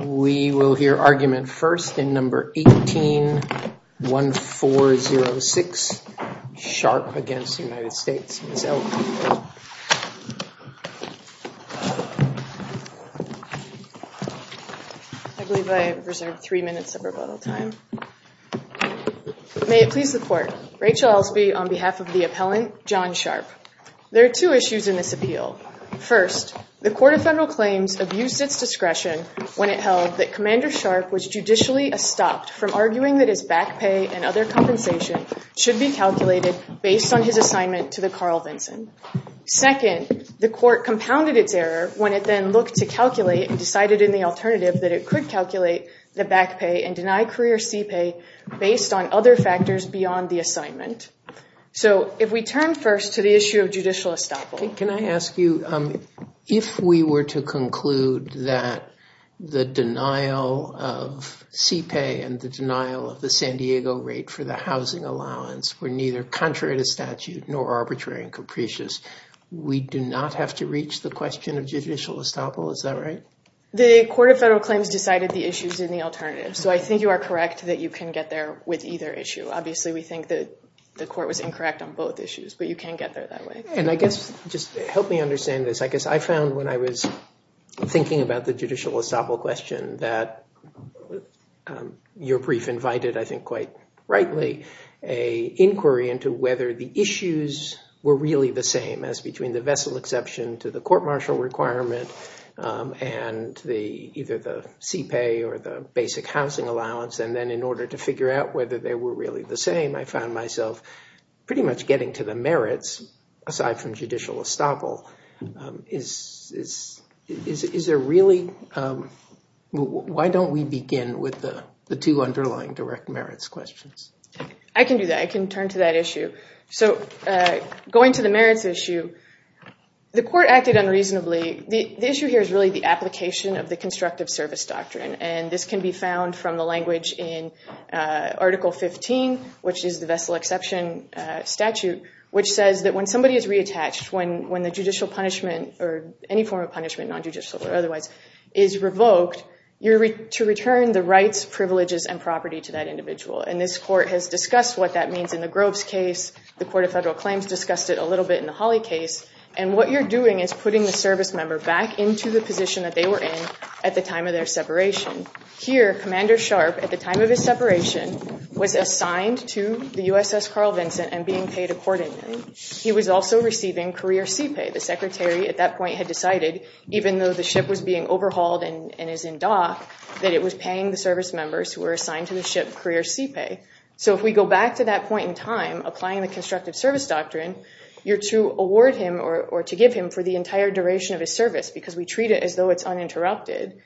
We will hear argument first in number 18-1406, Sharpe v. United States, Ms. Elton. I believe I have reserved three minutes of rebuttal time. May it please the court, Rachel Elsby on behalf of the appellant, John Sharpe. There are two issues in this appeal. First, the Court of Federal Claims abused its discretion when it held that Commander Sharpe was judicially estopped from arguing that his back pay and other compensation should be calculated based on his assignment to the Carl Vinson. Second, the court compounded its error when it then looked to calculate and decided in the alternative that it could calculate the back pay and deny career CPA based on other factors beyond the assignment. So if we turn first to the issue of judicial estoppel. Can I ask you, if we were to conclude that the denial of CPA and the San Diego rate for the housing allowance were neither contrary to statute nor arbitrary and capricious, we do not have to reach the question of judicial estoppel? Is that right? The Court of Federal Claims decided the issues in the alternative. So I think you are correct that you can get there with either issue. Obviously, we think that the court was incorrect on both issues, but you can get there that way. And I guess just help me understand this. I guess your brief invited, I think quite rightly, an inquiry into whether the issues were really the same as between the vessel exception to the court-martial requirement and either the CPA or the basic housing allowance. And then in order to figure out whether they were really the same, I found myself pretty much getting to the merits aside from judicial estoppel. Why don't we begin with the two underlying direct merits questions? I can do that. I can turn to that issue. So going to the merits issue, the court acted unreasonably. The issue here is really the application of the constructive service doctrine. And this can be found from the language in Article 15, which is the vessel exception statute, which says that when somebody is reattached, when the judicial punishment or any form of punishment, non-judicial or otherwise, is revoked, you're to return the rights, privileges, and property to that individual. And this court has discussed what that means in the Groves case. The Court of Federal Claims discussed it a little bit in the Holly case. And what you're doing is putting the service member back into the position that they were in at the time of their separation. Here, Commander Sharp, at the time of his separation, was assigned to the USS Carl Vincent and being paid accordingly. He was also receiving career seapay. The secretary at that point had decided, even though the ship was being overhauled and is in dock, that it was paying the service members who were assigned to the ship career seapay. So if we go back to that point in time, applying the constructive service doctrine, you're to award him or to give him for the entire duration of his service because we treat it as though it's uninterrupted.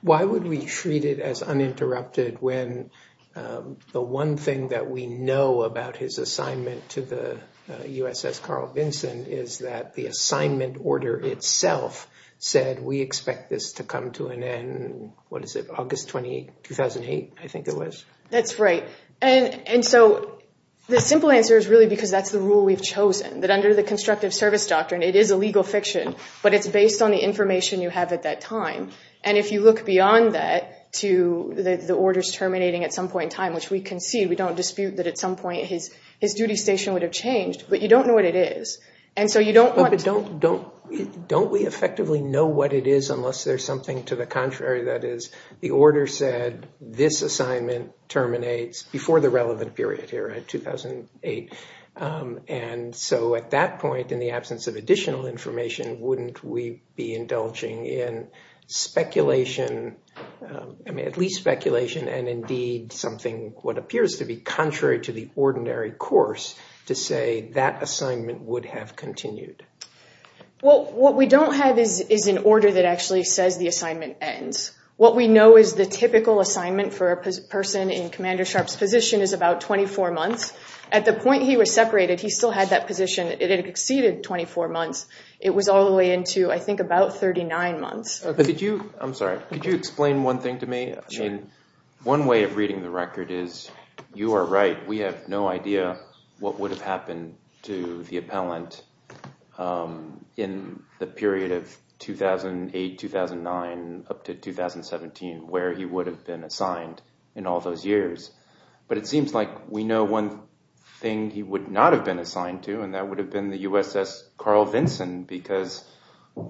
Why would we treat it uninterrupted when the one thing that we know about his assignment to the USS Carl Vincent is that the assignment order itself said, we expect this to come to an end, what is it, August 28, 2008, I think it was. That's right. And so the simple answer is really because that's the rule we've chosen. That under the constructive service doctrine, it is a legal fiction, but it's based on the information you have at that time. And if you look beyond that to the orders terminating at some point in time, which we concede, we don't dispute that at some point his duty station would have changed, but you don't know what it is. But don't we effectively know what it is unless there's something to the contrary? That is, the order said this assignment terminates before the relevant period here, 2008. And so at that point, in the absence of additional information, wouldn't we be indulging in speculation, I mean at least speculation, and indeed something what appears to be contrary to the ordinary course to say that assignment would have continued? Well, what we don't have is an order that actually says the assignment ends. What we know is the typical assignment for a person in Commander Sharp's position is about 24 months. At the point he was separated, he still had that position. It had exceeded 24 months. It was all the way into, I think, about 39 months. I'm sorry, could you explain one thing to me? One way of reading the record is, you are right, we have no idea what would have happened to the appellant in the period of 2008, 2009, up to 2017, where he would have been assigned in all those years. But it seems like we know one thing he would not have been assigned to, and that would have been the USS Carl Vinson, because,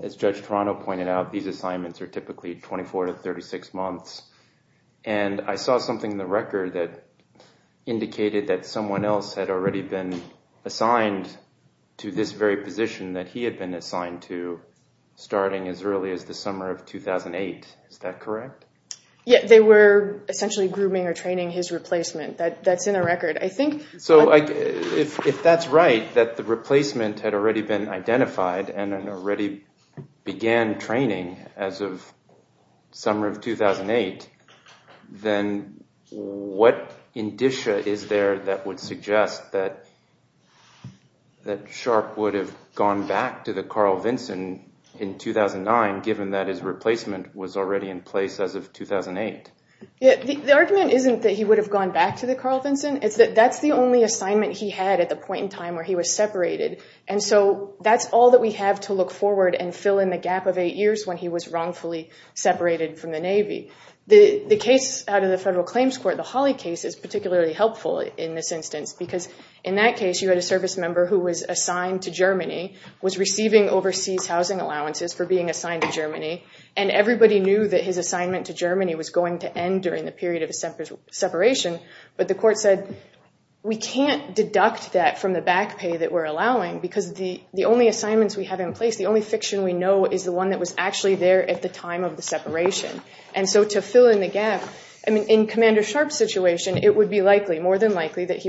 as Judge Toronto pointed out, these assignments are typically 24 to 36 months. And I saw something in the record that indicated that someone else had already been assigned to this very position that he had been assigned to starting as early as the summer of 2008. Is that correct? Yeah, they were essentially grooming or training his replacement. That's in the record. So if that's right, that the replacement had already been identified and had already began training as of the summer of 2008, then what indicia is there that would suggest that Sharp would have gone back to the Carl Vinson in 2009, given that his replacement was already in place as of 2008? Yeah, the argument isn't that he would have gone back to the Carl Vinson. It's that that's the only assignment he had at the point in time where he was separated. And so that's all that we have to look forward and fill in the gap of eight years when he was wrongfully separated from the Navy. The case out of the Federal Claims Court, the Hawley case, is particularly helpful in this overseas housing allowances for being assigned to Germany. And everybody knew that his assignment to Germany was going to end during the period of a separate separation. But the court said, we can't deduct that from the back pay that we're allowing because the only assignments we have in place, the only fiction we know, is the one that was actually there at the time of the separation. And so to fill in the gap, I mean, in Commander Sharp's situation, it would be likely, more than all this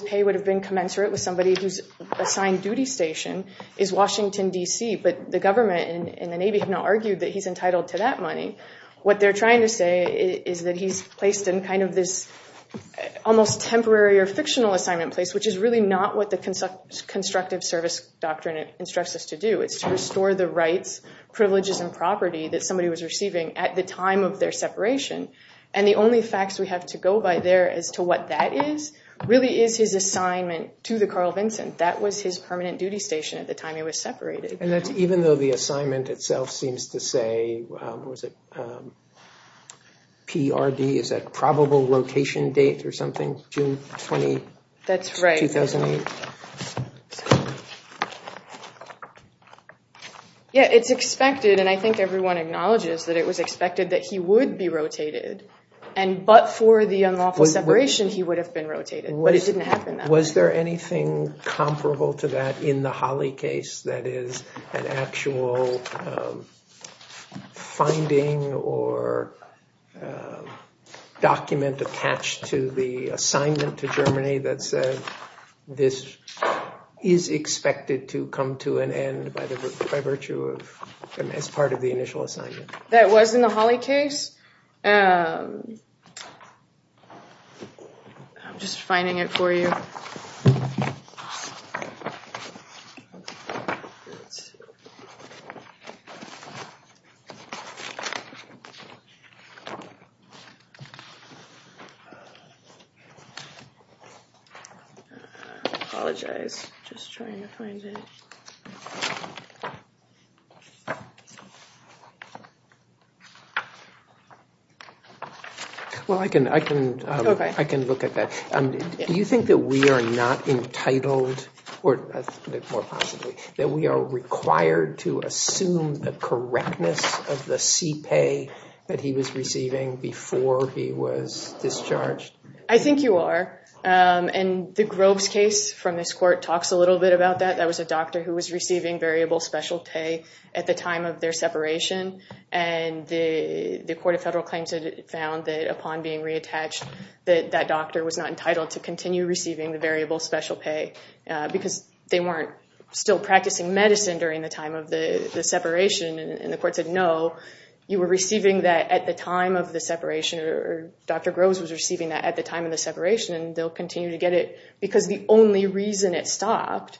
pay would have been commensurate with somebody who's assigned duty station, is Washington, DC. But the government and the Navy have now argued that he's entitled to that money. What they're trying to say is that he's placed in kind of this almost temporary or fictional assignment place, which is really not what the constructive service doctrine instructs us to do. It's to restore the rights, privileges, and property that somebody was receiving at the time of their separation. And the only facts we have to go by there as to what that is, really is his assignment to the Carl Vinson. That was his permanent duty station at the time he was separated. And that's even though the assignment itself seems to say, was it PRD? Is that probable rotation date or something? June 20, 2008? That's right. Yeah, it's expected, and I think everyone acknowledges that it was expected that he would be rotated. But for the unlawful separation, he would have been rotated. But it didn't happen that way. Was there anything comparable to that in the Holley case that is an actual finding or document attached to the assignment to Germany that said this is expected to come to an end by virtue of as part of the initial assignment? That was in the Holley case. I'm just finding it for you. Well, I can look at that. Do you think that we are not entitled, or more possibly, that we are required to assume the correctness of the CPA that he was receiving before he was discharged? I think you are. And the Groves case from this court talks a little bit about that. That was a doctor who was receiving variable special pay at the time of their separation. And the Court of Federal Claims had found that upon being reattached, that that doctor was not entitled to continue receiving the variable special pay because they weren't still practicing medicine during the time of the separation. And the court said, no, you were receiving that at the time of the separation, or Dr. Groves was receiving that at the time of the separation, and they'll continue to get it because the only reason it stopped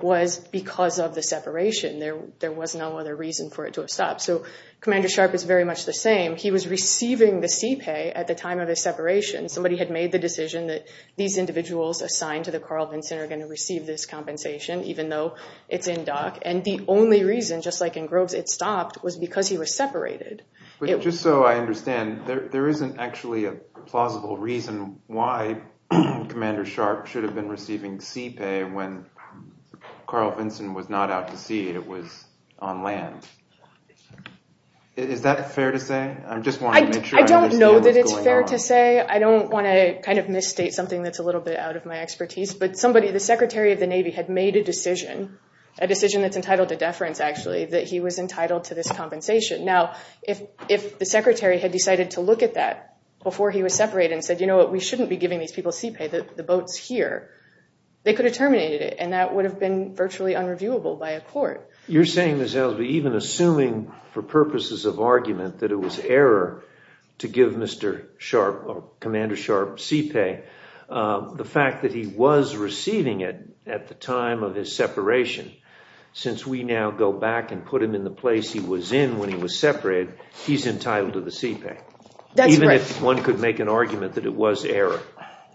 was because of the separation. There was no other reason for it to have stopped. So Commander Sharp is very much the same. He was receiving the CPA at the time of his separation. Somebody had made the decision that these individuals assigned to the Carl Vinson are going to receive this compensation even though it's in dock. And the only reason, just like in Just so I understand, there isn't actually a plausible reason why Commander Sharp should have been receiving CPA when Carl Vinson was not out to sea. It was on land. Is that fair to say? I don't know that it's fair to say. I don't want to kind of misstate something that's a little bit out of my expertise. But somebody, the Secretary of the Navy, had made a decision, a decision that's entitled to this compensation. Now, if the Secretary had decided to look at that before he was separated and said, you know what, we shouldn't be giving these people CPA, the boat's here, they could have terminated it, and that would have been virtually unreviewable by a court. You're saying, Ms. Elsby, even assuming for purposes of argument that it was error to give Mr. Sharp or Commander Sharp CPA, the fact that he was receiving it at the time of his separation, since we now go back and put him in the place he was in when he was separated, he's entitled to the CPA. Even if one could make an argument that it was error.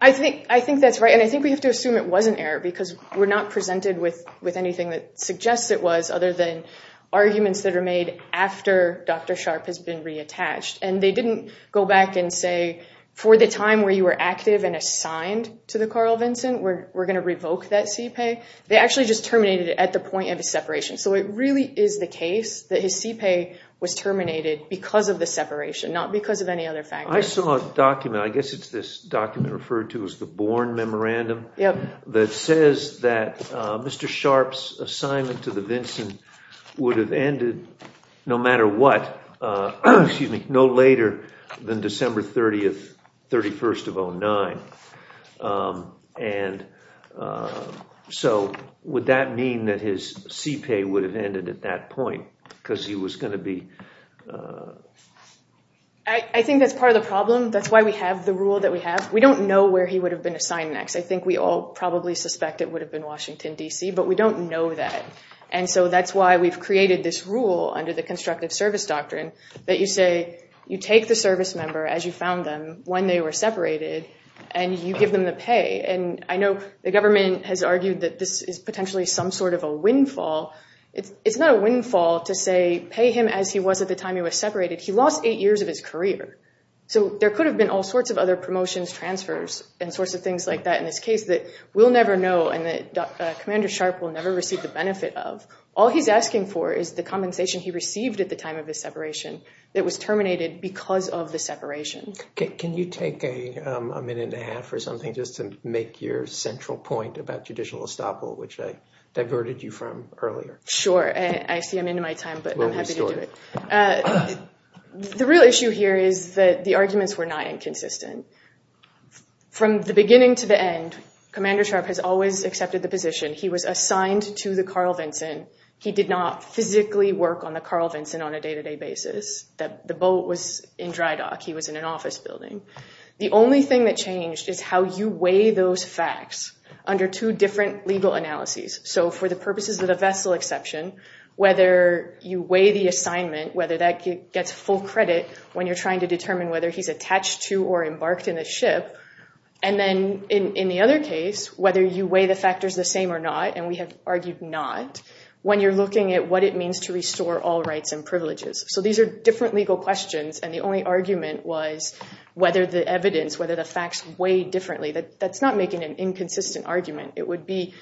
I think that's right. And I think we have to assume it wasn't error because we're not presented with anything that suggests it was, other than arguments that are made after Dr. Sharp has been reattached. And they didn't go back and say, for the time where you were active and assigned to the Carl Vinson, we're going to revoke that CPA. They actually just terminated it at the point of his separation. So it really is the case that his CPA was terminated because of the separation, not because of any other factors. I saw a document, I guess it's this document referred to as the Bourne Memorandum, that says that Mr. Sharp's assignment to the Vinson would have ended, no matter what, no later than December 30th, 31st of 2009. And so would that mean that his CPA would have ended at that point because he was going to be... I think that's part of the problem. That's why we have the rule that we have. We don't know where he would have been assigned next. I think we all probably suspect it would have been Washington, DC, but we don't know that. And so that's why we've created this rule under the constructive service doctrine that you say, you take the service member as you found them when they were separated, and you give them the pay. And I know the government has argued that this is potentially some sort of a windfall. It's not a windfall to say, pay him as he was at the time he was separated. He lost eight years of his career. So there could have been all sorts of other promotions, transfers, and sorts of things like that in this case that we'll never know and that Commander Sharp will never receive the benefit of. All he's asking for is the compensation he received at the time of his separation that was terminated because of the separation. Can you take a minute and a half or something just to make your central point about judicial estoppel, which I diverted you from earlier? Sure. I see I'm into my time, but I'm happy to do it. The real issue here is that the arguments were not inconsistent. From the beginning to the end, Commander Sharp has always accepted the position. He was assigned to the Carl Vinson. He did not physically work on the Carl Vinson on a day-to-day basis. The boat was in dry dock. He was in an office building. The only thing that changed is how you weigh those facts under two different legal analyses. So for the purposes of the vessel exception, whether you weigh the assignment, whether that gets full credit when you're trying to determine whether he's attached to or embarked in a ship, and then in the other case, whether you weigh the factors the same or not, and we have argued not, when you're looking at what it means to restore all rights and privileges. So these are different legal questions and the only argument was whether the evidence, whether the facts weigh differently. That's not making an inconsistent argument. It would be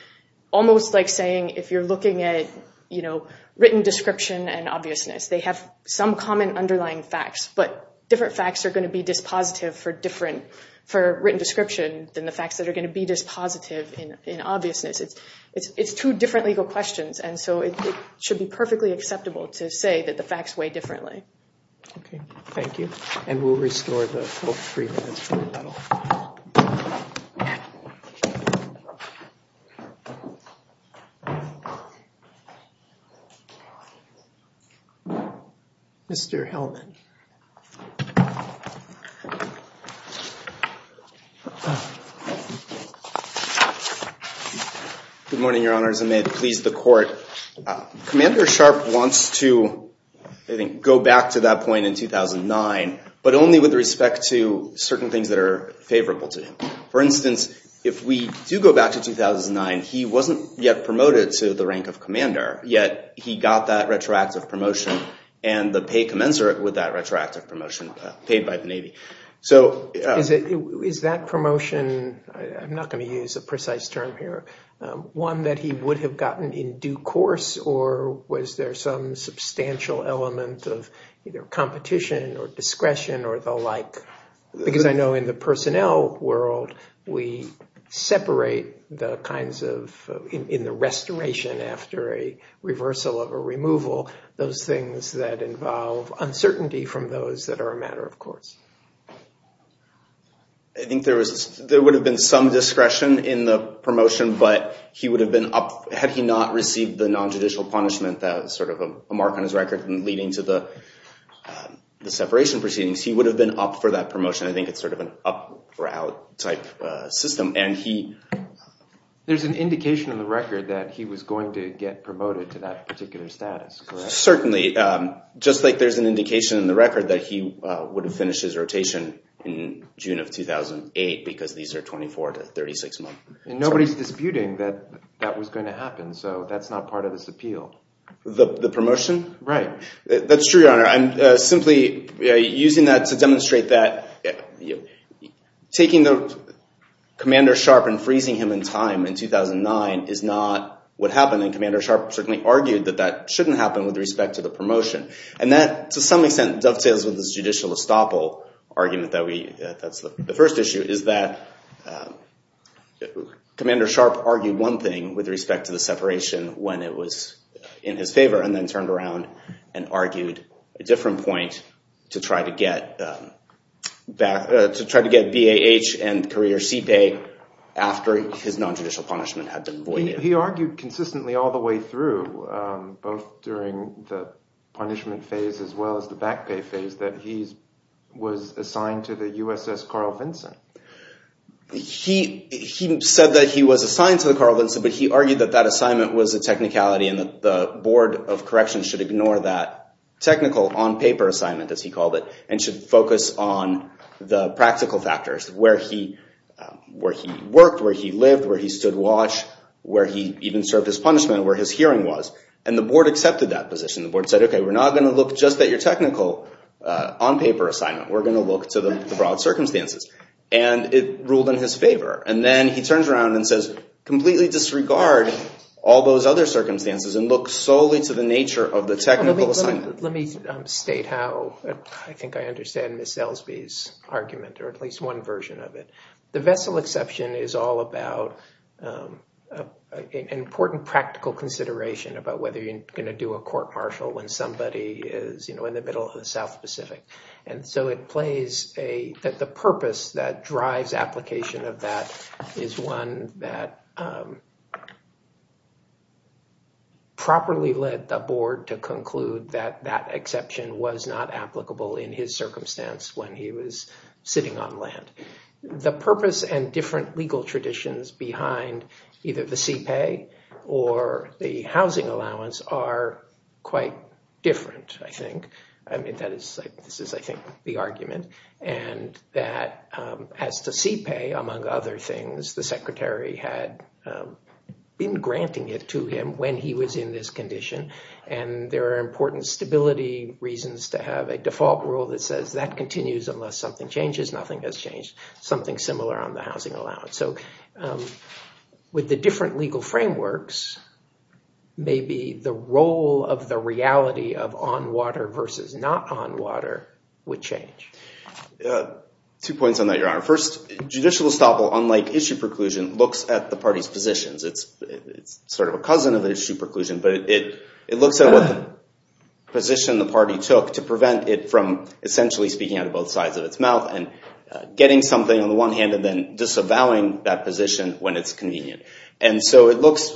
almost like saying if you're looking at, you know, written description and obviousness, they have some common underlying facts, but different facts are going to be dispositive for different, for written description than the facts that are going to be dispositive in obviousness. It's two different legal questions and so it should be perfectly acceptable to say that the facts weigh Good morning, Your Honors, and may it please the Court. Commander Sharp wants to, I think, go back to that point in 2009, but only with respect to certain things that are favorable to him. For instance, if we do go back to 2009, he wasn't yet promoted to the rank of And the pay commensurate with that retroactive promotion paid by the Navy. So is that promotion, I'm not going to use a precise term here, one that he would have gotten in due course, or was there some substantial element of either competition or discretion or the like? Because I know in the personnel world, we separate the kinds of, in the restoration after a reversal of a removal, those things that involve uncertainty from those that are a matter of course. I think there was, there would have been some discretion in the promotion, but he would have been up, had he not received the nonjudicial punishment that was sort of a mark on his record and leading to the separation proceedings, he would have been up for that promotion. I think it's sort of an up or out type system. And he, there's an indication in the record that he was going to get promoted to that particular status, correct? Certainly. Just like there's an indication in the record that he would have finished his rotation in June of 2008, because these are 24 to 36 months. And nobody's disputing that that was going to happen. So that's not part of this appeal. The promotion? Right. That's true, Your Honor. I'm simply using that to demonstrate that taking Commander Sharp and freezing him in time in 2009 is not what happened. And Commander Sharp certainly argued that that shouldn't happen with respect to the promotion. And that, to some extent, dovetails with this judicial estoppel argument that we – that's the first issue, is that Commander Sharp argued one thing with respect to the separation when it was in his favor and then turned around and argued a different point to try to get BAH and career CPA after his nonjudicial punishment had been voided. He argued consistently all the way through, both during the punishment phase as well as the back pay phase, that he was assigned to the USS Carl Vinson. He said that he was assigned to the Carl Vinson, but he argued that that assignment was a technicality and that the Board of Corrections should ignore that technical on-paper assignment, as he called it, and should focus on the practical factors, where he worked, where he lived, where he stood watch, where he even served his punishment, where his hearing was. And the board accepted that position. The board said, okay, we're not going to look just at your technical on-paper assignment. We're going to look to the broad circumstances. And it ruled in his favor. And then he turns around and says, completely disregard all those other circumstances and look solely to the nature of the technical assignment. Let me state how I think I understand Ms. Selsby's argument, or at least one version of it. The vessel exception is all about an important practical consideration about whether you're going to do a court-martial when somebody is, you know, in the middle of the South Pacific. And so it plays a, that the purpose that drives application of that is one that properly led the board to conclude that that exception was not applicable in his circumstance when he was sitting on land. The purpose and different legal traditions behind either the CPAY or the housing allowance are quite different, I think. I mean, that is, this is, I think, the argument. And that as to CPAY, among other things, the secretary had been granting it to him when he was in this condition. And there are important stability reasons to have a default rule that says that continues unless something changes. Nothing has changed. Something similar on the housing allowance. So with the different legal frameworks, maybe the role of the reality of on water versus not on water would change. Two points on that, Your Honor. First, judicial estoppel, unlike issue preclusion, looks at the party's positions. It's sort of a cousin of issue preclusion, but it looks at what position the party took to prevent it from essentially speaking out of both sides of its mouth and getting something on the one hand and then disavowing that position when it's convenient. And so it looks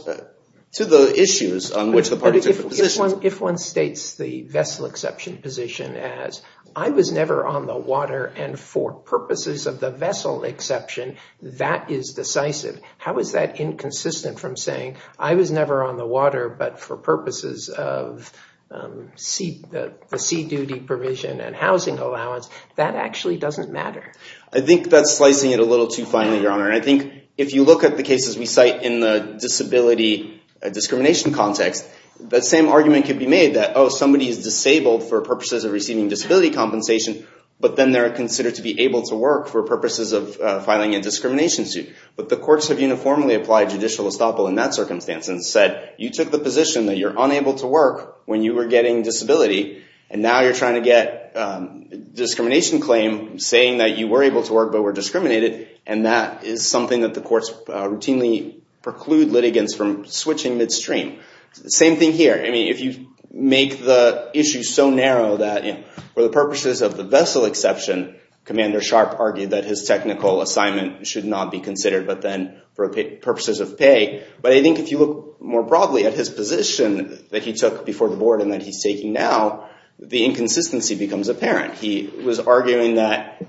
to the issues on which the party took the position. If one states the vessel exception position as, I was never on the water and for purposes of the vessel exception, that is decisive. How is that inconsistent from saying, I was never on the water, but for purposes of the sea duty provision and housing allowance, that actually doesn't matter? I think that's slicing it a little too finely, Your Honor. And I think if you look at the cases we cite in the disability discrimination context, the same argument could be made that, oh, somebody is disabled for purposes of receiving disability compensation, but then they're considered to be able to work for purposes of filing a discrimination suit. But the courts have uniformly applied judicial estoppel in that circumstance and said, you took the position that you're unable to work when you were getting disability, and now you're trying to get a discrimination claim saying that you were able to work but were discriminated. And that is something that the courts routinely preclude litigants from switching midstream. Same thing here. I mean, if you make the issue so narrow that for the purposes of the vessel exception, Commander Sharp argued that his technical assignment should not be considered but then for purposes of pay. But I think if you look more broadly at his position that he took before the board and that he's taking now, the inconsistency becomes apparent. He was arguing that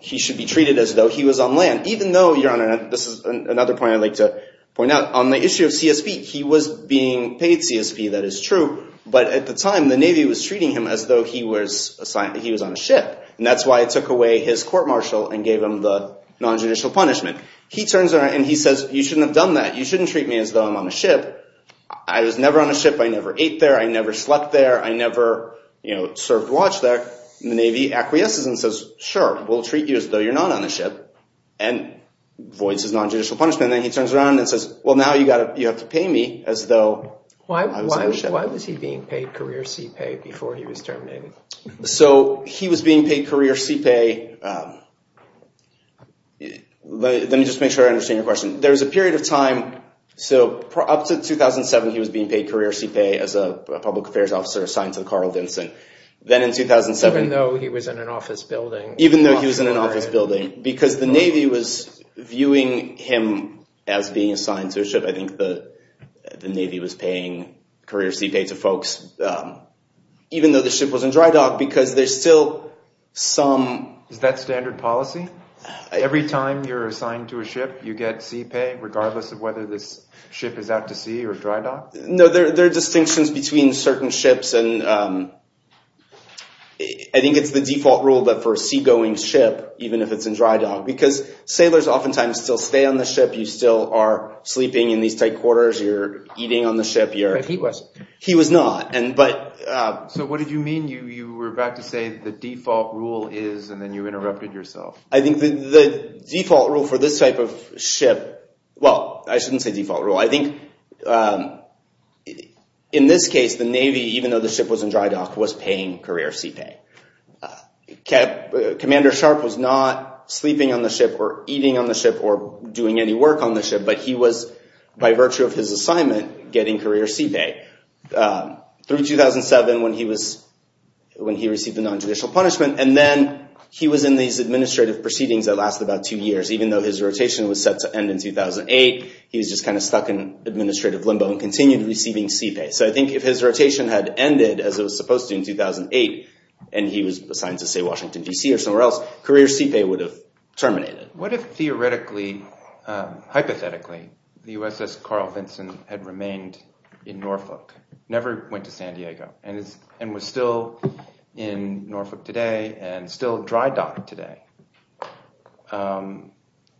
he should be treated as though he was on land, even though, Your Honor, this is another point I'd like to point out. On the issue of CSP, he was being paid CSP. That is true. But at the time, the Navy was treating him as though he was on a ship. And that's why it took away his court-martial and gave him the nonjudicial punishment. And he turns around and he says, you shouldn't have done that. You shouldn't treat me as though I'm on a ship. I was never on a ship. I never ate there. I never slept there. I never served watch there. And the Navy acquiesces and says, sure, we'll treat you as though you're not on a ship and voids his nonjudicial punishment. And then he turns around and says, well, now you have to pay me as though I was on a ship. Why was he being paid career CPA before he was terminated? So he was being paid career CPA. Let me just make sure I understand your question. There was a period of time. So up to 2007, he was being paid career CPA as a public affairs officer assigned to Carl Vinson. Then in 2007— Even though he was in an office building. Because the Navy was viewing him as being assigned to a ship. I think the Navy was paying career CPA to folks even though the ship was in dry dock because there's still some— Is that standard policy? Every time you're assigned to a ship, you get CPA regardless of whether this ship is out to sea or dry dock? No, there are distinctions between certain ships. I think it's the default rule that for a seagoing ship, even if it's in dry dock, because sailors oftentimes still stay on the ship. You still are sleeping in these tight quarters. You're eating on the ship. But he wasn't. He was not. So what did you mean? You were about to say the default rule is and then you interrupted yourself. I think the default rule for this type of ship—well, I shouldn't say default rule. I think in this case, the Navy, even though the ship was in dry dock, was paying career CPA. Commander Sharp was not sleeping on the ship or eating on the ship or doing any work on the ship, but he was, by virtue of his assignment, getting career CPA. Through 2007, when he received the nonjudicial punishment, and then he was in these administrative proceedings that lasted about two years. Even though his rotation was set to end in 2008, he was just kind of stuck in administrative limbo and continued receiving CPA. So I think if his rotation had ended, as it was supposed to in 2008, and he was assigned to, say, Washington, D.C. or somewhere else, career CPA would have terminated. What if theoretically, hypothetically, the USS Carl Vinson had remained in Norfolk, never went to San Diego, and was still in Norfolk today and still dry docked today?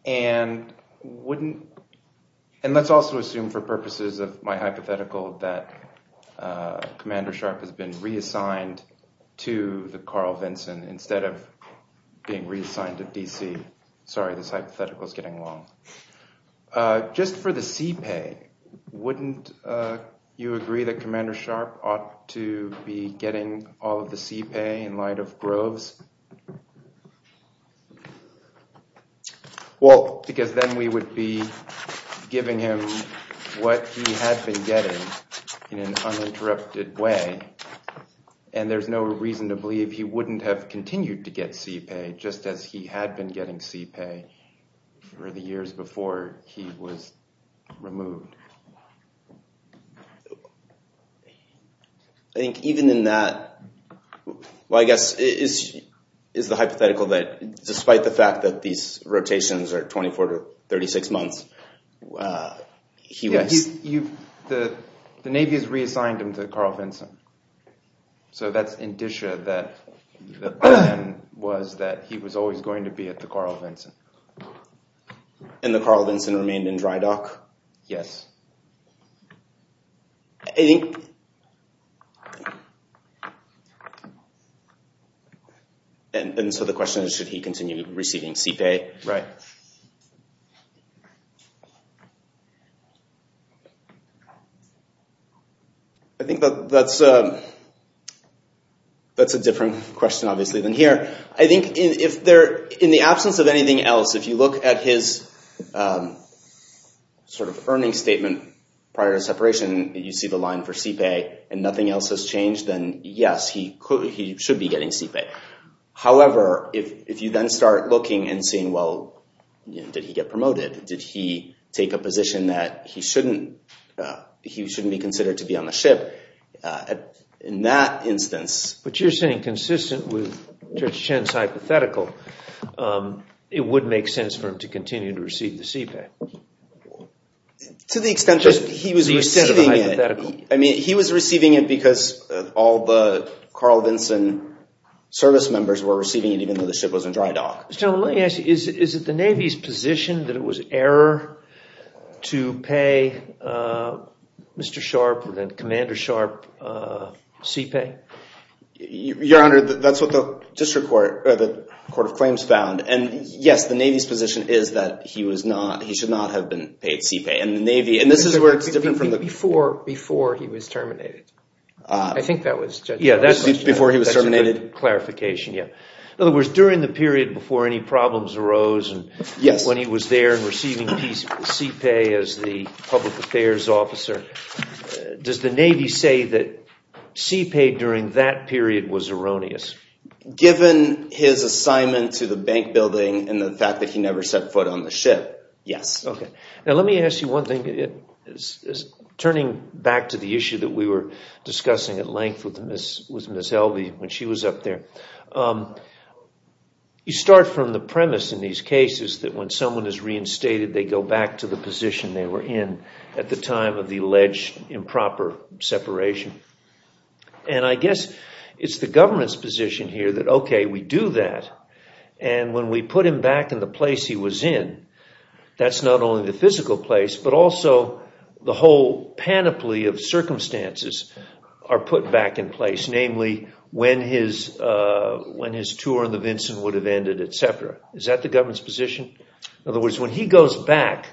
And wouldn't—and let's also assume for purposes of my hypothetical that Commander Sharp has been reassigned to the Carl Vinson instead of being reassigned to D.C. Sorry, this hypothetical is getting long. Just for the CPA, wouldn't you agree that Commander Sharp ought to be getting all of the CPA in light of Groves? Well, because then we would be giving him what he had been getting in an uninterrupted way, and there's no reason to believe he wouldn't have continued to get CPA just as he had been getting CPA for the years before he was removed. I think even in that—well, I guess it is the hypothetical that despite the fact that these rotations are 24 to 36 months, he was— The Navy has reassigned him to Carl Vinson. So that's indicia that the plan was that he was always going to be at the Carl Vinson. And the Carl Vinson remained in dry dock? Yes. And so the question is, should he continue receiving CPA? Right. I think that's a different question, obviously, than here. I think in the absence of anything else, if you look at his earning statement prior to separation, you see the line for CPA, and nothing else has changed, then yes, he should be getting CPA. However, if you then start looking and seeing, well, did he get promoted? Did he take a position that he shouldn't be considered to be on the ship? In that instance— But you're saying consistent with Judge Chen's hypothetical, it would make sense for him to continue to receive the CPA. To the extent that he was receiving it. To the extent of the hypothetical. Service members were receiving it even though the ship was in dry dock. Let me ask you, is it the Navy's position that it was error to pay Mr. Sharpe, Commander Sharpe, CPA? Your Honor, that's what the District Court—the Court of Claims found. And yes, the Navy's position is that he was not—he should not have been paid CPA. And the Navy—and this is where it's different from the— Before he was terminated. I think that was Judge Chen's question. Before he was terminated. That's a good clarification, yeah. In other words, during the period before any problems arose and when he was there receiving CPA as the public affairs officer, does the Navy say that CPA during that period was erroneous? Given his assignment to the bank building and the fact that he never set foot on the ship, yes. Now let me ask you one thing. Turning back to the issue that we were discussing at length with Ms. Helvey when she was up there. You start from the premise in these cases that when someone is reinstated, they go back to the position they were in at the time of the alleged improper separation. And I guess it's the government's position here that, okay, we do that. And when we put him back in the place he was in, that's not only the physical place, but also the whole panoply of circumstances are put back in place. Namely, when his tour on the Vinson would have ended, etc. Is that the government's position? In other words, when he goes back,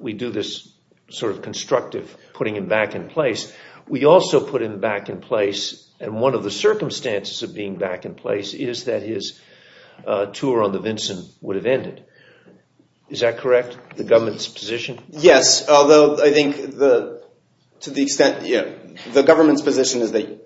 we do this sort of constructive putting him back in place. We also put him back in place, and one of the circumstances of being back in place is that his tour on the Vinson would have ended. Is that correct, the government's position? Yes, although I think to the extent, the government's position is that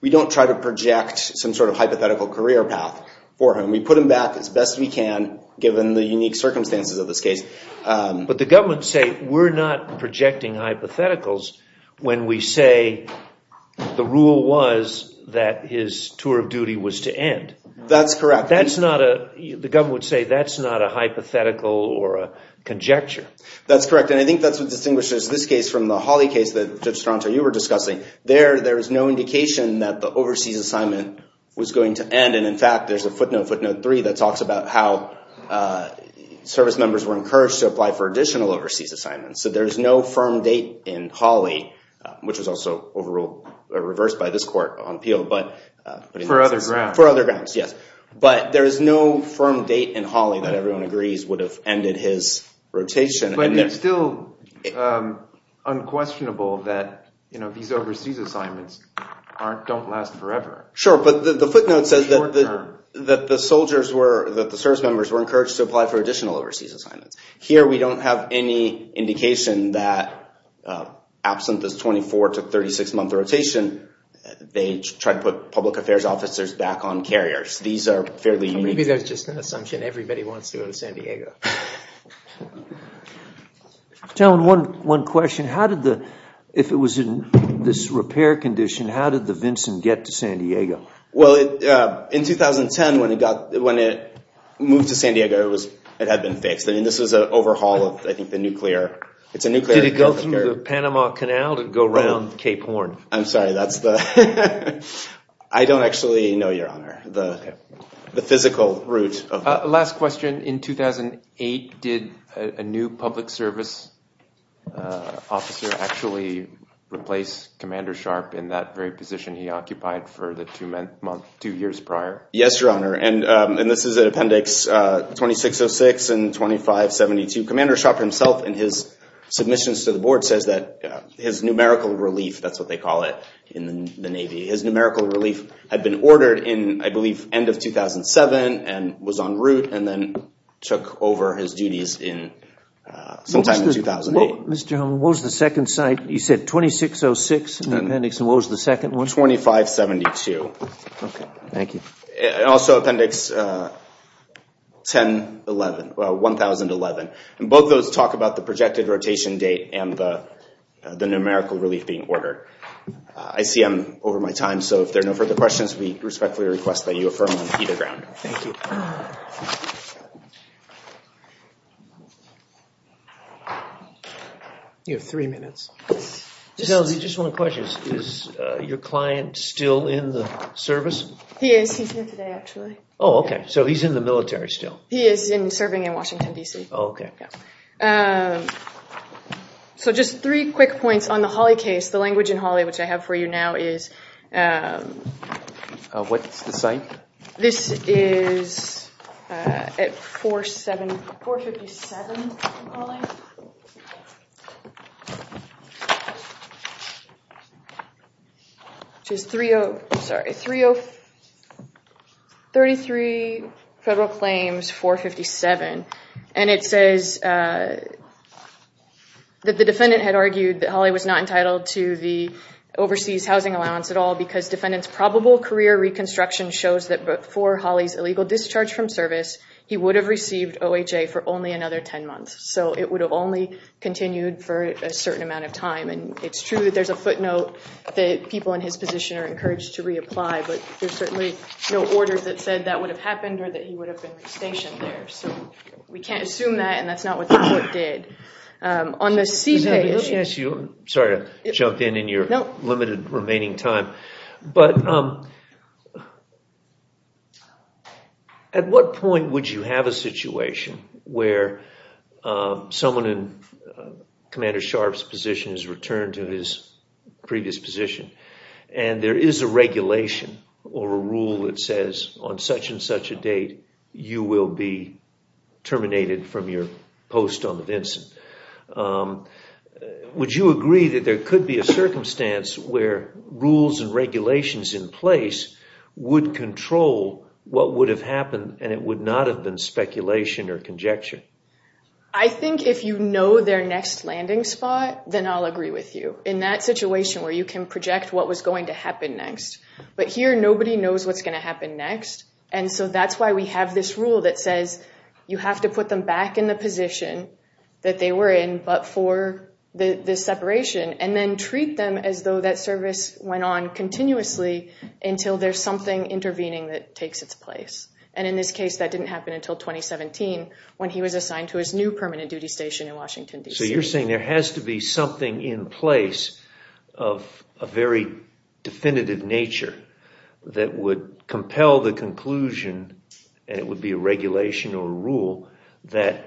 we don't try to project some sort of hypothetical career path for him. We put him back as best we can, given the unique circumstances of this case. But the government would say we're not projecting hypotheticals when we say the rule was that his tour of duty was to end. That's correct. The government would say that's not a hypothetical or a conjecture. That's correct, and I think that's what distinguishes this case from the Hawley case that, Judge Stronto, you were discussing. There is no indication that the overseas assignment was going to end, and in fact, there's a footnote, footnote three, that talks about how service members were encouraged to apply for additional overseas assignments. So there's no firm date in Hawley, which was also reversed by this court on appeal. For other grounds. For other grounds, yes. But there is no firm date in Hawley that everyone agrees would have ended his rotation. But it's still unquestionable that these overseas assignments don't last forever. Sure, but the footnote says that the service members were encouraged to apply for additional overseas assignments. Here we don't have any indication that absent this 24 to 36 month rotation, they tried to put public affairs officers back on carriers. These are fairly unique. Maybe that's just an assumption. Everybody wants to go to San Diego. John, one question. If it was in this repair condition, how did the Vinson get to San Diego? Well, in 2010, when it moved to San Diego, it had been fixed. I mean, this was an overhaul of, I think, the nuclear. Did it go through the Panama Canal to go around Cape Horn? I'm sorry. I don't actually know, Your Honor, the physical route. Last question. In 2008, did a new public service officer actually replace Commander Sharp in that very position he occupied for the two years prior? Yes, Your Honor. And this is an appendix 2606 and 2572. Commander Sharp himself in his submissions to the board says that his numerical relief, that's what they call it in the Navy, his numerical relief had been ordered in, I believe, end of 2007 and was en route and then took over his duties sometime in 2008. Mr. Hummel, what was the second site? You said 2606 in the appendix, and what was the second one? 2572. Okay. Thank you. And also appendix 1011, well, 1011. And both of those talk about the projected rotation date and the numerical relief being ordered. I see I'm over my time, so if there are no further questions, we respectfully request that you affirm on either ground. Thank you. You have three minutes. Just one question. Is your client still in the service? He is. He's here today, actually. Oh, okay. So he's in the military still? He is serving in Washington, D.C. Oh, okay. Yeah. So just three quick points on the Hawley case. The language in Hawley, which I have for you now, is- What's the site? This is at 457, I'm calling, which is 30- I'm sorry, 30- 33 Federal Claims, 457. And it says that the defendant had argued that Hawley was not entitled to the overseas housing allowance at all because defendant's probable career reconstruction shows that before Hawley's illegal discharge from service, he would have received OHA for only another 10 months. So it would have only continued for a certain amount of time. And it's true that there's a footnote that people in his position are encouraged to reapply, but there's certainly no order that said that would have happened or that he would have been stationed there. So we can't assume that, and that's not what the court did. On the C page- Sorry to jump in in your limited remaining time. But at what point would you have a situation where someone in Commander Sharp's position is returned to his previous position and there is a regulation or a rule that says, on such and such a date, you will be terminated from your post on the Vinson? Would you agree that there could be a circumstance where rules and regulations in place would control what would have happened and it would not have been speculation or conjecture? I think if you know their next landing spot, then I'll agree with you. In that situation where you can project what was going to happen next, but here nobody knows what's going to happen next. And so that's why we have this rule that says you have to put them back in the position that they were in, but for the separation and then treat them as though that service went on continuously until there's something intervening that takes its place. And in this case, that didn't happen until 2017 when he was assigned to his new permanent duty station in Washington, D.C. So you're saying there has to be something in place of a very definitive nature that would compel the conclusion and it would be a regulation or a rule that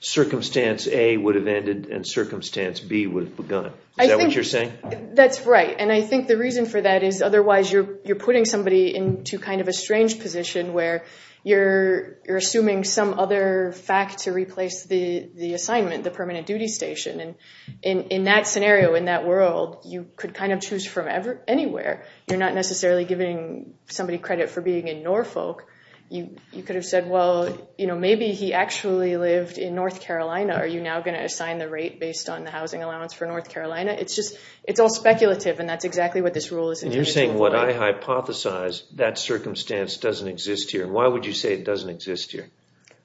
Circumstance A would have ended and Circumstance B would have begun. Is that what you're saying? That's right, and I think the reason for that is otherwise you're putting somebody into kind of a strange position where you're assuming some other fact to replace the assignment, the permanent duty station. And in that scenario, in that world, you could kind of choose from anywhere. You're not necessarily giving somebody credit for being in Norfolk. You could have said, well, maybe he actually lived in North Carolina. Are you now going to assign the rate based on the housing allowance for North Carolina? It's all speculative, and that's exactly what this rule is. And you're saying what I hypothesize, that circumstance doesn't exist here. Why would you say it doesn't exist here?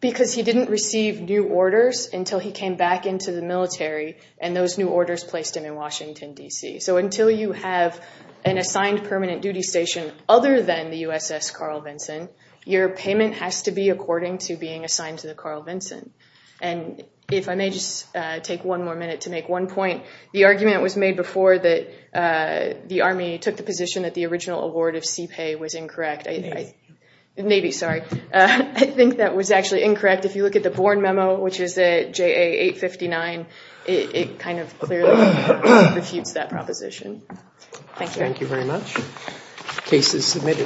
Because he didn't receive new orders until he came back into the military and those new orders placed him in Washington, D.C. So until you have an assigned permanent duty station other than the USS Carl Vinson, your payment has to be according to being assigned to the Carl Vinson. And if I may just take one more minute to make one point, the argument was made before that the Army took the position that the original award of CPA was incorrect. Maybe. Maybe, sorry. I think that was actually incorrect. If you look at the Born memo, which is at JA 859, it kind of clearly refutes that proposition. Thank you. Thank you very much. Case is submitted. Thank you.